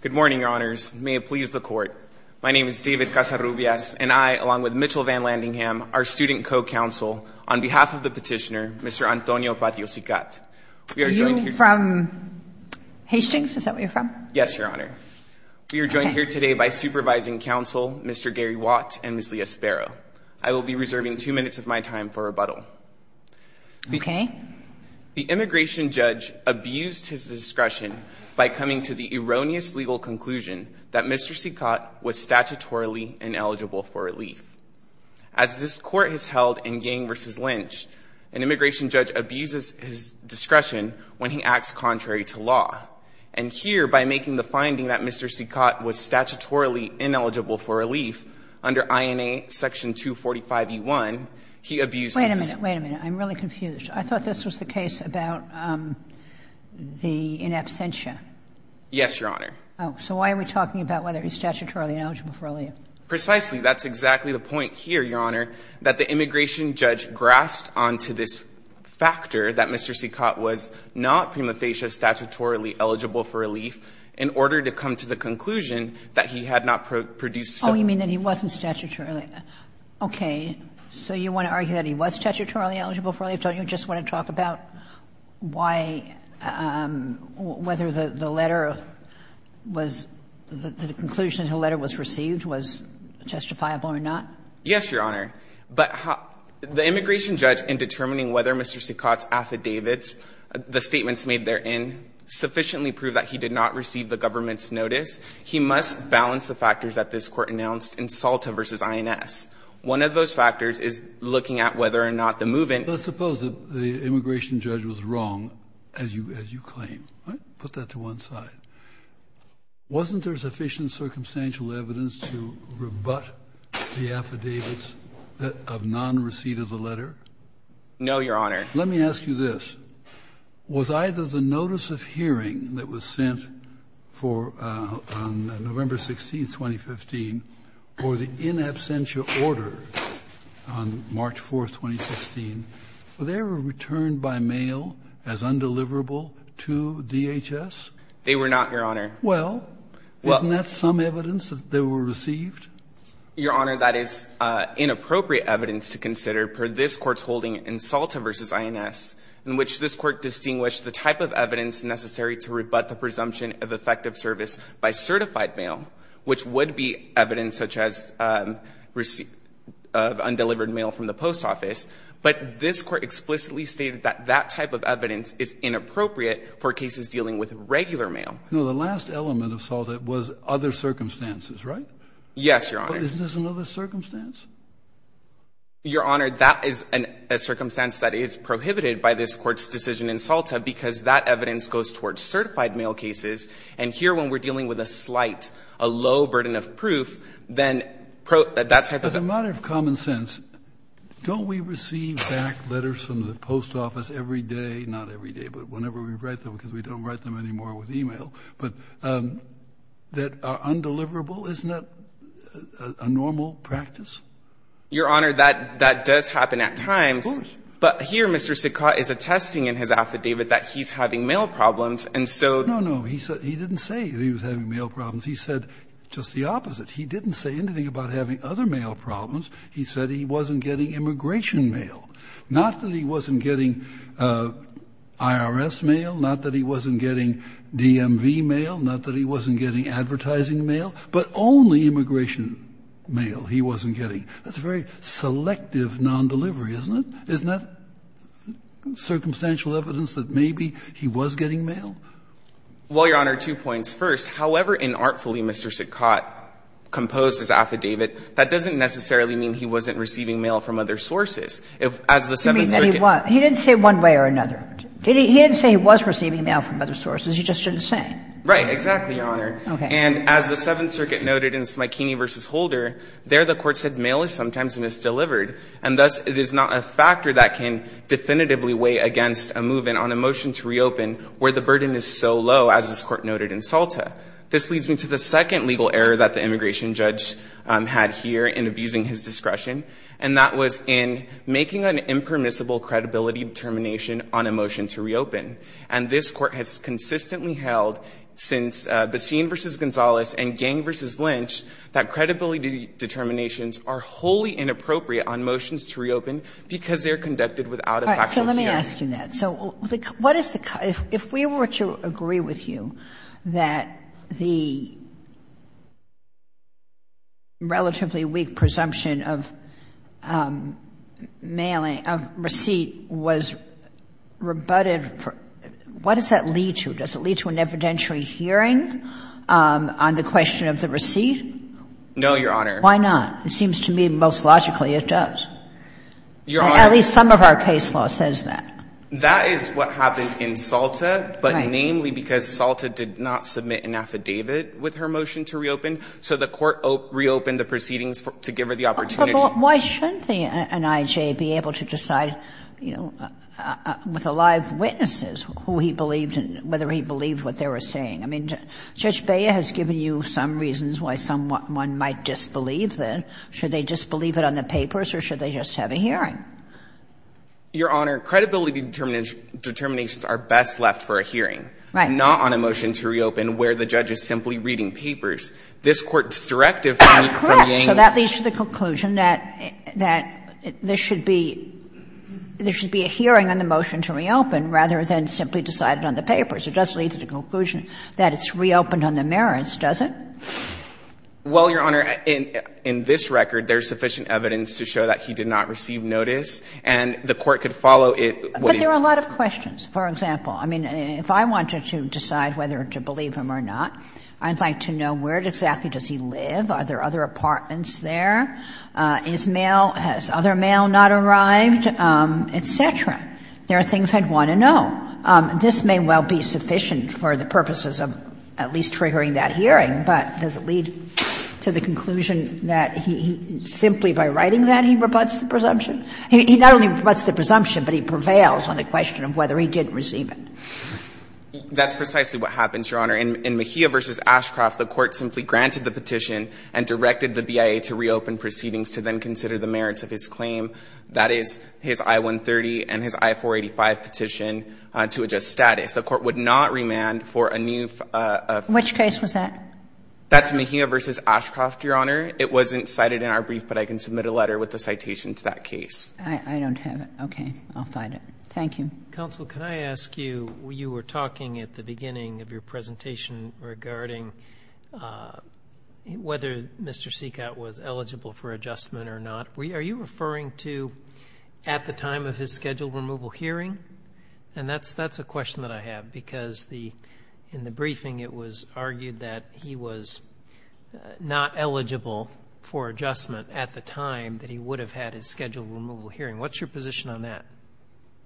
Good morning, Your Honors. May it please the Court. My name is David Casarubias, and I, along with Mitchell Van Landingham, our student co-counsel, on behalf of the petitioner, Mr. Antonio Patio Sicat. Are you from Hastings? Is that where you're from? Yes, Your Honor. We are joined here today by Supervising Counsel Mr. Gary Watt and Ms. Leah Sparrow. I will be reserving two minutes of my time for rebuttal. Okay. The immigration judge abused his discretion by coming to the erroneous legal conclusion that Mr. Sicat was statutorily ineligible for relief. As this Court has held in Yang v. Lynch, an immigration judge abuses his discretion when he acts contrary to law. And here, by making the finding that Mr. Sicat was statutorily ineligible for relief under INA Section 245e1, he abused his discretion. Wait a minute. I'm really confused. I thought this was the case about the in absentia. Yes, Your Honor. So why are we talking about whether he's statutorily ineligible for relief? Precisely. That's exactly the point here, Your Honor, that the immigration judge grasped onto this factor that Mr. Sicat was not prima facie statutorily eligible for relief in order to come to the conclusion that he had not produced some. Oh, you mean that he wasn't statutorily. Okay. So you want to argue that he was statutorily eligible for relief? Don't you just want to talk about why, whether the letter was, the conclusion in the letter was received was justifiable or not? Yes, Your Honor. But the immigration judge, in determining whether Mr. Sicat's affidavits, the statements made therein, sufficiently proved that he did not receive the government's One of those factors is looking at whether or not the movement. Let's suppose that the immigration judge was wrong, as you claim. Put that to one side. Wasn't there sufficient circumstantial evidence to rebut the affidavits of non-receipt of the letter? No, Your Honor. Let me ask you this. Was either the notice of hearing that was sent for November 16, 2015, or the in absentia order on March 4, 2016, were they ever returned by mail as undeliverable to DHS? They were not, Your Honor. Well, isn't that some evidence that they were received? Your Honor, that is inappropriate evidence to consider, per this Court's holding in Salta v. INS, in which this Court distinguished the type of evidence necessary to rebut the presumption of effective service by certified mail, which would be evidence such as receipt of undelivered mail from the post office. But this Court explicitly stated that that type of evidence is inappropriate for cases dealing with regular mail. No. The last element of Salta was other circumstances, right? Yes, Your Honor. Isn't this another circumstance? Your Honor, that is a circumstance that is prohibited by this Court's decision in Salta, because that evidence goes towards certified mail cases. And here, when we're dealing with a slight, a low burden of proof, then that type of evidence. But as a matter of common sense, don't we receive back letters from the post office every day, not every day, but whenever we write them, because we don't write them Your Honor, that does happen at times. Of course. But here, Mr. Sitka is attesting in his affidavit that he's having mail problems, and so. No, no. He didn't say he was having mail problems. He said just the opposite. He didn't say anything about having other mail problems. He said he wasn't getting immigration mail. Not that he wasn't getting IRS mail. Not that he wasn't getting DMV mail. Not that he wasn't getting advertising mail. But only immigration mail he wasn't getting. That's a very selective nondelivery, isn't it? Isn't that circumstantial evidence that maybe he was getting mail? Well, Your Honor, two points. First, however inartfully Mr. Sitka composed his affidavit, that doesn't necessarily mean he wasn't receiving mail from other sources. As the Seventh Circuit. He didn't say one way or another. He didn't say he was receiving mail from other sources. He just didn't say. Right. Exactly, Your Honor. Okay. And as the Seventh Circuit noted in Smikini v. Holder, there the Court said mail is sometimes misdelivered. And thus it is not a factor that can definitively weigh against a move in on a motion to reopen where the burden is so low as this Court noted in Salta. This leads me to the second legal error that the immigration judge had here in abusing his discretion. And that was in making an impermissible credibility determination on a motion to reopen. And this Court has consistently held since Basin v. Gonzalez and Gang v. Lynch that credibility determinations are wholly inappropriate on motions to reopen because they are conducted without a factual hearing. So let me ask you that. If we were to agree with you that the relatively weak presumption of mailing, of receipt was rebutted, what does that lead to? Does it lead to an evidentiary hearing on the question of the receipt? No, Your Honor. Why not? It seems to me most logically it does. Your Honor. At least some of our case law says that. That is what happened in Salta, but namely because Salta did not submit an affidavit with her motion to reopen. So the Court reopened the proceedings to give her the opportunity. But why shouldn't an I.J. be able to decide, you know, with the live witnesses who he believed in, whether he believed what they were saying? I mean, Judge Bea has given you some reasons why someone might disbelieve that. Should they disbelieve it on the papers or should they just have a hearing? Your Honor, credibility determinations are best left for a hearing. Right. Not on a motion to reopen where the judge is simply reading papers. This Court's directive from Yangian. Correct. So that leads to the conclusion that there should be a hearing on the motion to reopen rather than simply decided on the papers. It does lead to the conclusion that it's reopened on the merits, does it? Well, Your Honor, in this record, there's sufficient evidence to show that he did not receive notice, and the Court could follow it. But there are a lot of questions. For example, I mean, if I wanted to decide whether to believe him or not, I'd like to know where exactly does he live. Are there other apartments there? Is mail – has other mail not arrived? Et cetera. There are things I'd want to know. This may well be sufficient for the purposes of at least triggering that hearing, but does it lead to the conclusion that he – simply by writing that, he rebuts the presumption? He not only rebuts the presumption, but he prevails on the question of whether he did receive it. That's precisely what happens, Your Honor. In Mejia v. Ashcroft, the Court simply granted the petition and directed the BIA to reopen proceedings to then consider the merits of his claim. That is, his I-130 and his I-485 petition to adjust status. The Court would not remand for a new – Which case was that? That's Mejia v. Ashcroft, Your Honor. It wasn't cited in our brief, but I can submit a letter with a citation to that case. I don't have it. Okay. I'll find it. Thank you. Counsel, can I ask you, you were talking at the beginning of your presentation regarding whether Mr. Seacott was eligible for adjustment or not. Are you referring to at the time of his scheduled removal hearing? And that's a question that I have, because the – in the briefing, it was argued that he was not eligible for adjustment at the time that he would have had his scheduled removal hearing. What's your position on that?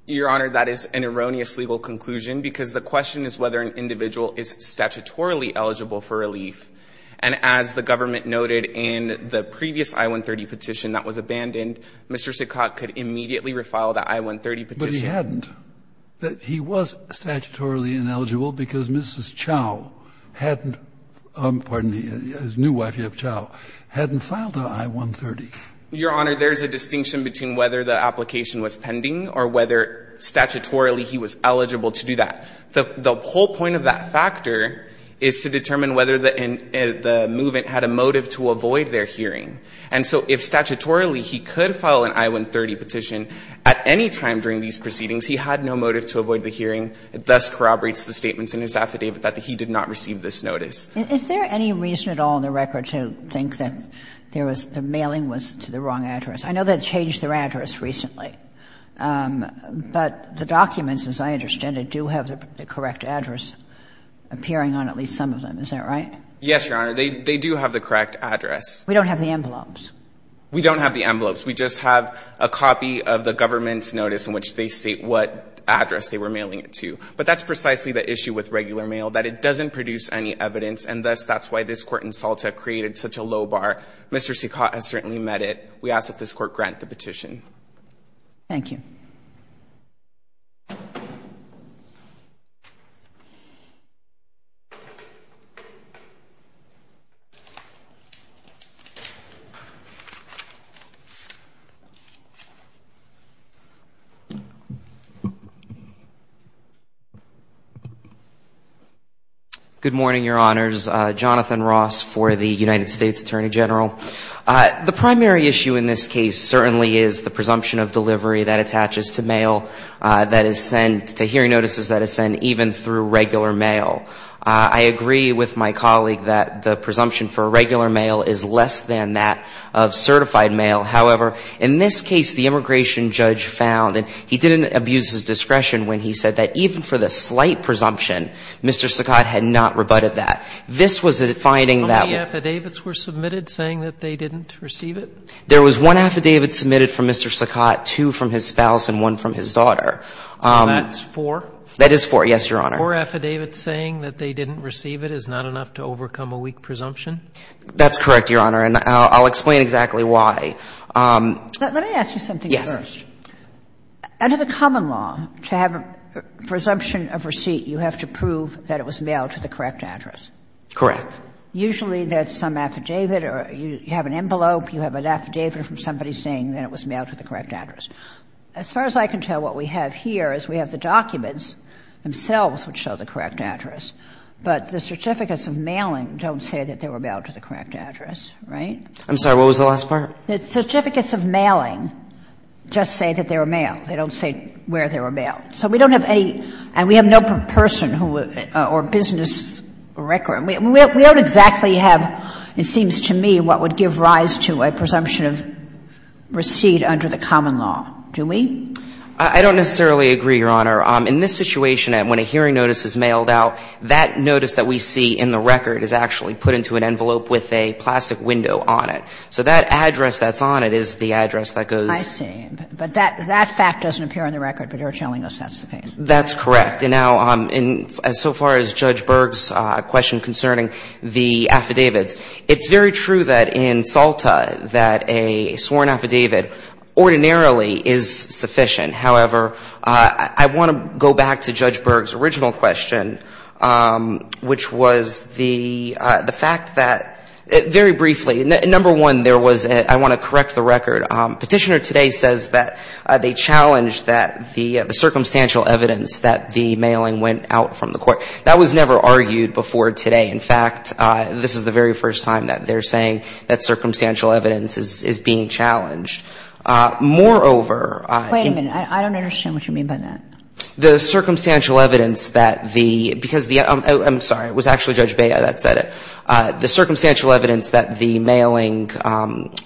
Your Honor, that is an erroneous legal conclusion, because the question is whether an individual is statutorily eligible for relief. And as the government noted in the previous I-130 petition that was abandoned, Mr. Seacott could immediately refile the I-130 petition. But he hadn't. He was statutorily ineligible because Mrs. Chow hadn't – pardon me, his new wife, Yev Chow – hadn't filed the I-130. Your Honor, there is a distinction between whether the application was pending or whether statutorily he was eligible to do that. The whole point of that factor is to determine whether the movement had a motive to avoid their hearing. And so if statutorily he could file an I-130 petition at any time during these proceedings, he had no motive to avoid the hearing, thus corroborates the statements in his affidavit that he did not receive this notice. Is there any reason at all in the record to think that there was – the mailing was to the wrong address? I know that changed their address recently, but the documents, as I understand it, do have the correct address appearing on at least some of them. Is that right? Yes, Your Honor. They do have the correct address. We don't have the envelopes. We don't have the envelopes. We just have a copy of the government's notice in which they state what address they were mailing it to. But that's precisely the issue with regular mail, that it doesn't produce any evidence, and thus that's why this Court in Salta created such a low bar. Mr. Secott has certainly met it. We ask that this Court grant the petition. Thank you. Good morning, Your Honors. Jonathan Ross for the United States Attorney General. The primary issue in this case certainly is the presumption of delivery that attaches to mail that is sent – to hearing notices that is sent even through regular mail. I agree with my colleague that the presumption for regular mail is less than that of certified mail. However, in this case, the immigration judge found – and he didn't abuse his for the slight presumption, Mr. Secott had not rebutted that. This was a finding that – How many affidavits were submitted saying that they didn't receive it? There was one affidavit submitted from Mr. Secott, two from his spouse, and one from his daughter. So that's four? That is four, yes, Your Honor. Four affidavits saying that they didn't receive it is not enough to overcome a weak presumption? That's correct, Your Honor, and I'll explain exactly why. Let me ask you something first. Yes. Under the common law, to have a presumption of receipt, you have to prove that it was mailed to the correct address? Correct. Usually there's some affidavit or you have an envelope, you have an affidavit from somebody saying that it was mailed to the correct address. As far as I can tell, what we have here is we have the documents themselves which show the correct address, but the certificates of mailing don't say that they were mailed to the correct address, right? I'm sorry. What was the last part? The certificates of mailing just say that they were mailed. They don't say where they were mailed. So we don't have any, and we have no person or business record. We don't exactly have, it seems to me, what would give rise to a presumption of receipt under the common law, do we? I don't necessarily agree, Your Honor. In this situation, when a hearing notice is mailed out, that notice that we see in the record is actually put into an envelope with a plastic window on it. So that address that's on it is the address that goes. I see. But that fact doesn't appear on the record, but you're telling us that's the case. That's correct. And now, so far as Judge Berg's question concerning the affidavits, it's very true that in SALTA that a sworn affidavit ordinarily is sufficient. However, I want to go back to Judge Berg's original question, which was the fact that, very briefly, number one, there was a — I want to correct the record. Petitioner today says that they challenged that the circumstantial evidence that the mailing went out from the court. That was never argued before today. In fact, this is the very first time that they're saying that circumstantial evidence is being challenged. Moreover— Wait a minute. I don't understand what you mean by that. The circumstantial evidence that the — because the — I'm sorry. It was actually Judge Bea that said it. The circumstantial evidence that the mailing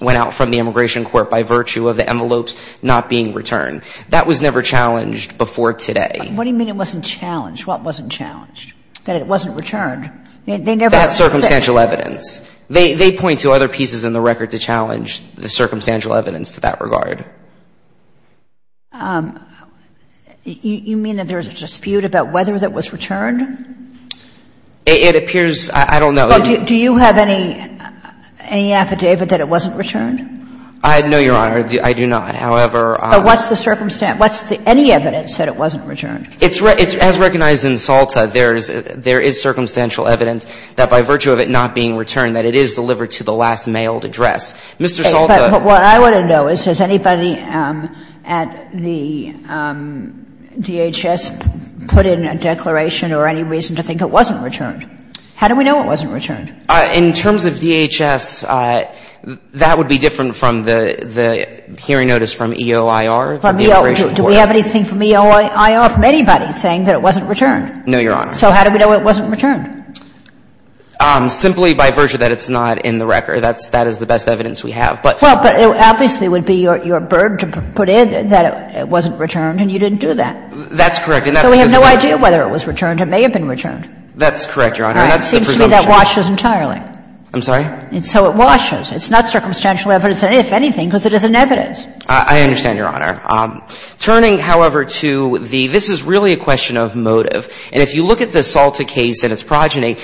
went out from the immigration court by virtue of the envelopes not being returned. That was never challenged before today. What do you mean it wasn't challenged? What wasn't challenged? That it wasn't returned? They never— That circumstantial evidence. They point to other pieces in the record to challenge the circumstantial evidence to that regard. You mean that there's a dispute about whether that was returned? It appears — I don't know. Do you have any affidavit that it wasn't returned? No, Your Honor. I do not. However— But what's the circumstance? What's any evidence that it wasn't returned? As recognized in Salta, there is circumstantial evidence that by virtue of it not being returned, that it is delivered to the last mailed address. Mr. Salta— But what I want to know is, has anybody at the DHS put in a declaration or any reason to think it wasn't returned? How do we know it wasn't returned? In terms of DHS, that would be different from the hearing notice from EOIR, the immigration court. Do we have anything from EOIR from anybody saying that it wasn't returned? No, Your Honor. So how do we know it wasn't returned? Simply by virtue that it's not in the record. That is the best evidence we have. Well, but it obviously would be your burden to put in that it wasn't returned and you didn't do that. That's correct. And that's the presumption. So we have no idea whether it was returned. It may have been returned. That's correct, Your Honor. And that's the presumption. All right. It seems to me that washes entirely. I'm sorry? So it washes. It's not circumstantial evidence, if anything, because it is an evidence. I understand, Your Honor. Turning, however, to the — this is really a question of motive. And if you look at the Salta case and its progeny,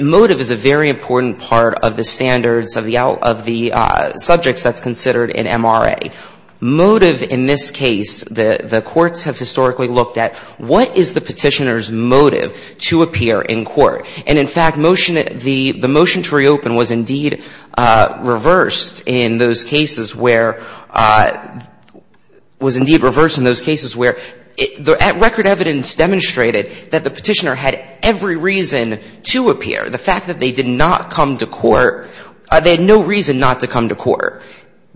motive is a very important part of the standards of the — of the subjects that's considered in MRA. Motive in this case, the courts have historically looked at what is the Petitioner's motive to appear in court. And, in fact, the motion to reopen was indeed reversed in those cases where — was indeed reversed in those cases where record evidence demonstrated that the Petitioner had every reason to appear. The fact that they did not come to court — they had no reason not to come to court.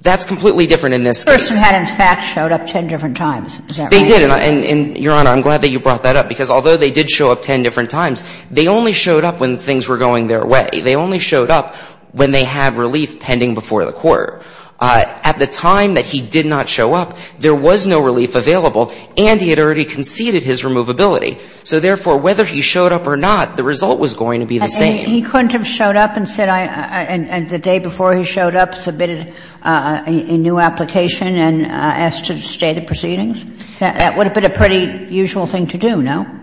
That's completely different in this case. The Petitioner had, in fact, showed up ten different times. Is that right? They did. And, Your Honor, I'm glad that you brought that up, because although they did show up ten different times, they only showed up when things were going their way. They only showed up when they had relief pending before the court. At the time that he did not show up, there was no relief available and he had already conceded his removability. So, therefore, whether he showed up or not, the result was going to be the same. He couldn't have showed up and said I — and the day before he showed up, submitted a new application and asked to stay the proceedings? That would have been a pretty usual thing to do, no?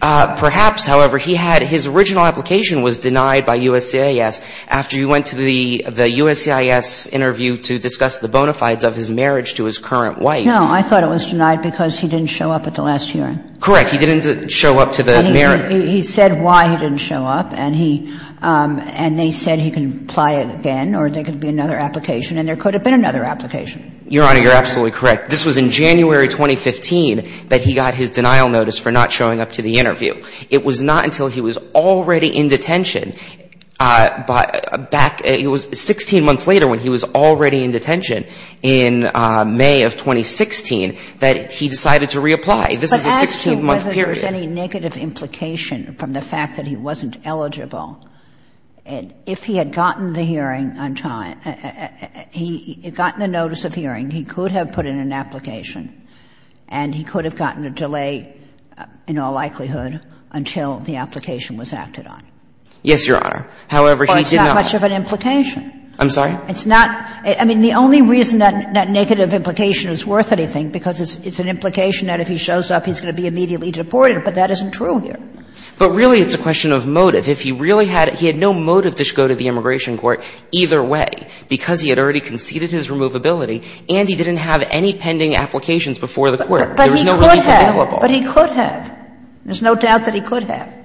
Perhaps. However, he had — his original application was denied by USCIS. After he went to the USCIS interview to discuss the bona fides of his marriage to his current wife. No, I thought it was denied because he didn't show up at the last hearing. Correct. He didn't show up to the marriage. He said why he didn't show up and he — and they said he could apply again or there could be another application and there could have been another application. Your Honor, you're absolutely correct. This was in January 2015 that he got his denial notice for not showing up to the interview. It was not until he was already in detention back — it was 16 months later when he was already in detention in May of 2016 that he decided to reapply. This is a 16-month period. But whether there's any negative implication from the fact that he wasn't eligible, if he had gotten the hearing on time, he had gotten the notice of hearing, he could have put in an application and he could have gotten a delay in all likelihood until the application was acted on. Yes, Your Honor. However, he did not. Well, it's not much of an implication. I'm sorry? It's not — I mean, the only reason that negative implication is worth anything is because it's an implication that if he shows up, he's going to be immediately deported, but that isn't true here. But really, it's a question of motive. If he really had — he had no motive to go to the immigration court either way, because he had already conceded his removability and he didn't have any pending applications before the court. There was no reason to be liable. But he could have. There's no doubt that he could have.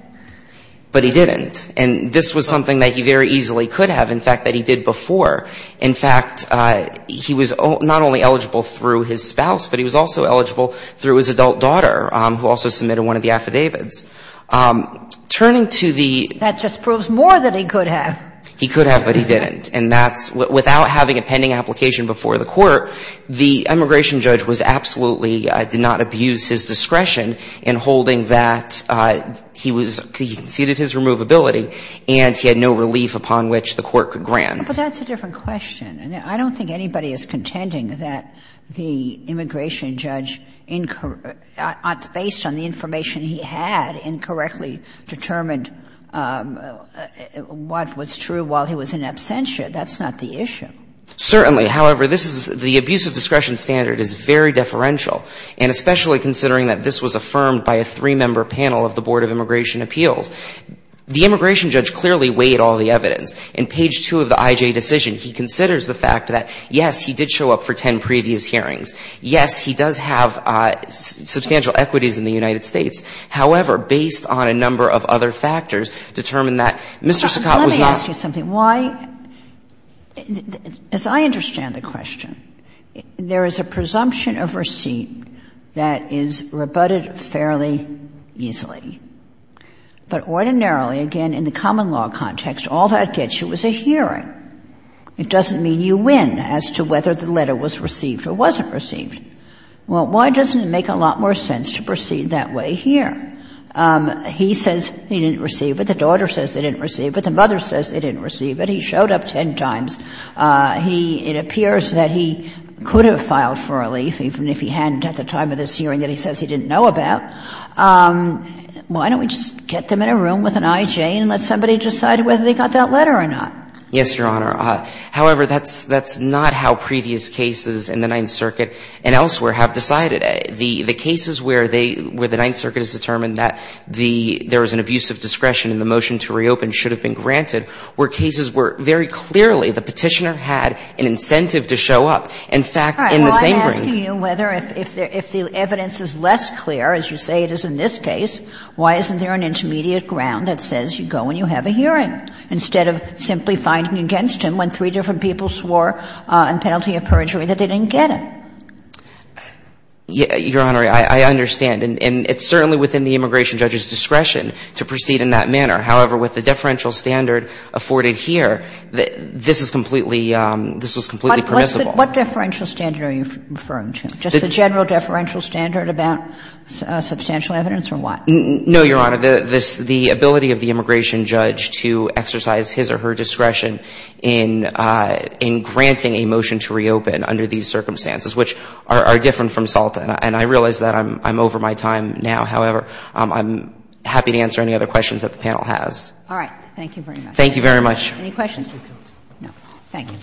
But he didn't. And this was something that he very easily could have, in fact, that he did before. In fact, he was not only eligible through his spouse, but he was also eligible through his adult daughter, who also submitted one of the affidavits. Turning to the — That just proves more that he could have. He could have, but he didn't. And that's — without having a pending application before the court, the immigration judge was absolutely — did not abuse his discretion in holding that he was — he conceded his removability and he had no relief upon which the court could grant. But that's a different question. I don't think anybody is contending that the immigration judge, based on the information he had, incorrectly determined what was true while he was in absentia. That's not the issue. Certainly. However, this is — the abuse of discretion standard is very deferential, and especially considering that this was affirmed by a three-member panel of the Board of Immigration Appeals. The immigration judge clearly weighed all the evidence. In page 2 of the IJ decision, he considers the fact that, yes, he did show up for 10 previous hearings. Yes, he does have substantial equities in the United States. However, based on a number of other factors, determined that Mr. Sakat was not — But let me ask you something. Why — as I understand the question, there is a presumption of receipt that is rebutted fairly easily. But ordinarily, again, in the common law context, all that gets you is a hearing. It doesn't mean you win as to whether the letter was received or wasn't received. Well, why doesn't it make a lot more sense to proceed that way here? He says he didn't receive it. The daughter says they didn't receive it. The mother says they didn't receive it. He showed up 10 times. He — it appears that he could have filed for relief, even if he hadn't at the time of this hearing that he says he didn't know about. Why don't we just get them in a room with an IJ and let somebody decide whether they got that letter or not? Yes, Your Honor. However, that's not how previous cases in the Ninth Circuit and elsewhere have decided. The cases where they — where the Ninth Circuit has determined that the — there was an abuse of discretion and the motion to reopen should have been granted were cases where, very clearly, the Petitioner had an incentive to show up. In fact, in the same — But I'm asking you whether, if the evidence is less clear, as you say it is in this case, why isn't there an intermediate ground that says you go and you have a hearing instead of simply finding against him when three different people swore on penalty of perjury that they didn't get it? Your Honor, I understand. And it's certainly within the immigration judge's discretion to proceed in that manner. However, with the deferential standard afforded here, this is completely — this was completely permissible. What deferential standard are you referring to? Just the general deferential standard about substantial evidence or what? No, Your Honor. The ability of the immigration judge to exercise his or her discretion in granting a motion to reopen under these circumstances, which are different from Salta, and I realize that I'm over my time now. However, I'm happy to answer any other questions that the panel has. All right. Thank you very much. Any questions? Thank you. Thank you.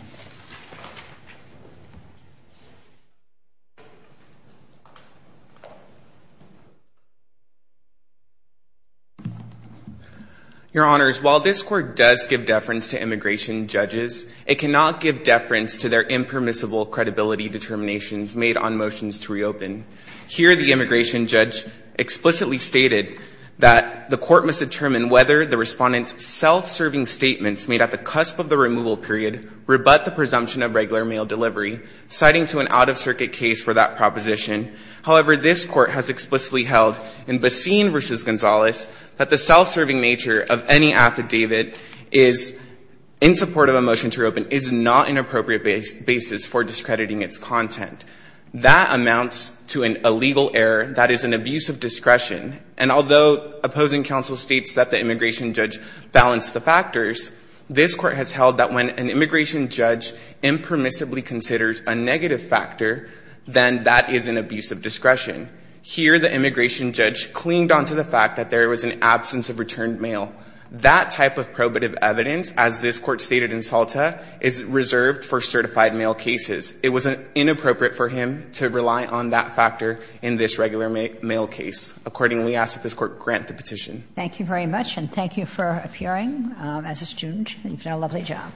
Your Honors, while this Court does give deference to immigration judges, it cannot give deference to their impermissible credibility determinations made on motions to reopen. Here, the immigration judge explicitly stated that the court must determine whether the respondents' self-serving statements made at the cusp of the removal period rebut the presumption of regular mail delivery, citing to an out-of-circuit case for that proposition. However, this Court has explicitly held in Basin v. Gonzalez that the self-serving nature of any affidavit in support of a motion to reopen is not an appropriate basis for discrediting its content. That amounts to an illegal error that is an abuse of discretion. And although opposing counsel states that the immigration judge balanced the factors, this Court has held that when an immigration judge impermissibly considers a negative factor, then that is an abuse of discretion. Here, the immigration judge clinged on to the fact that there was an absence of returned mail. That type of probative evidence, as this Court stated in Salta, is reserved for certified mail cases. It was inappropriate for him to rely on that factor in this regular mail case. Accordingly, we ask that this Court grant the petition. Thank you very much. And thank you for appearing as a student. You've done a lovely job.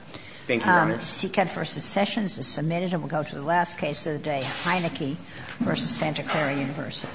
Thank you, Your Honor. Seacut v. Sessions is submitted. And we'll go to the last case of the day, Heinecke v. Santa Clara University.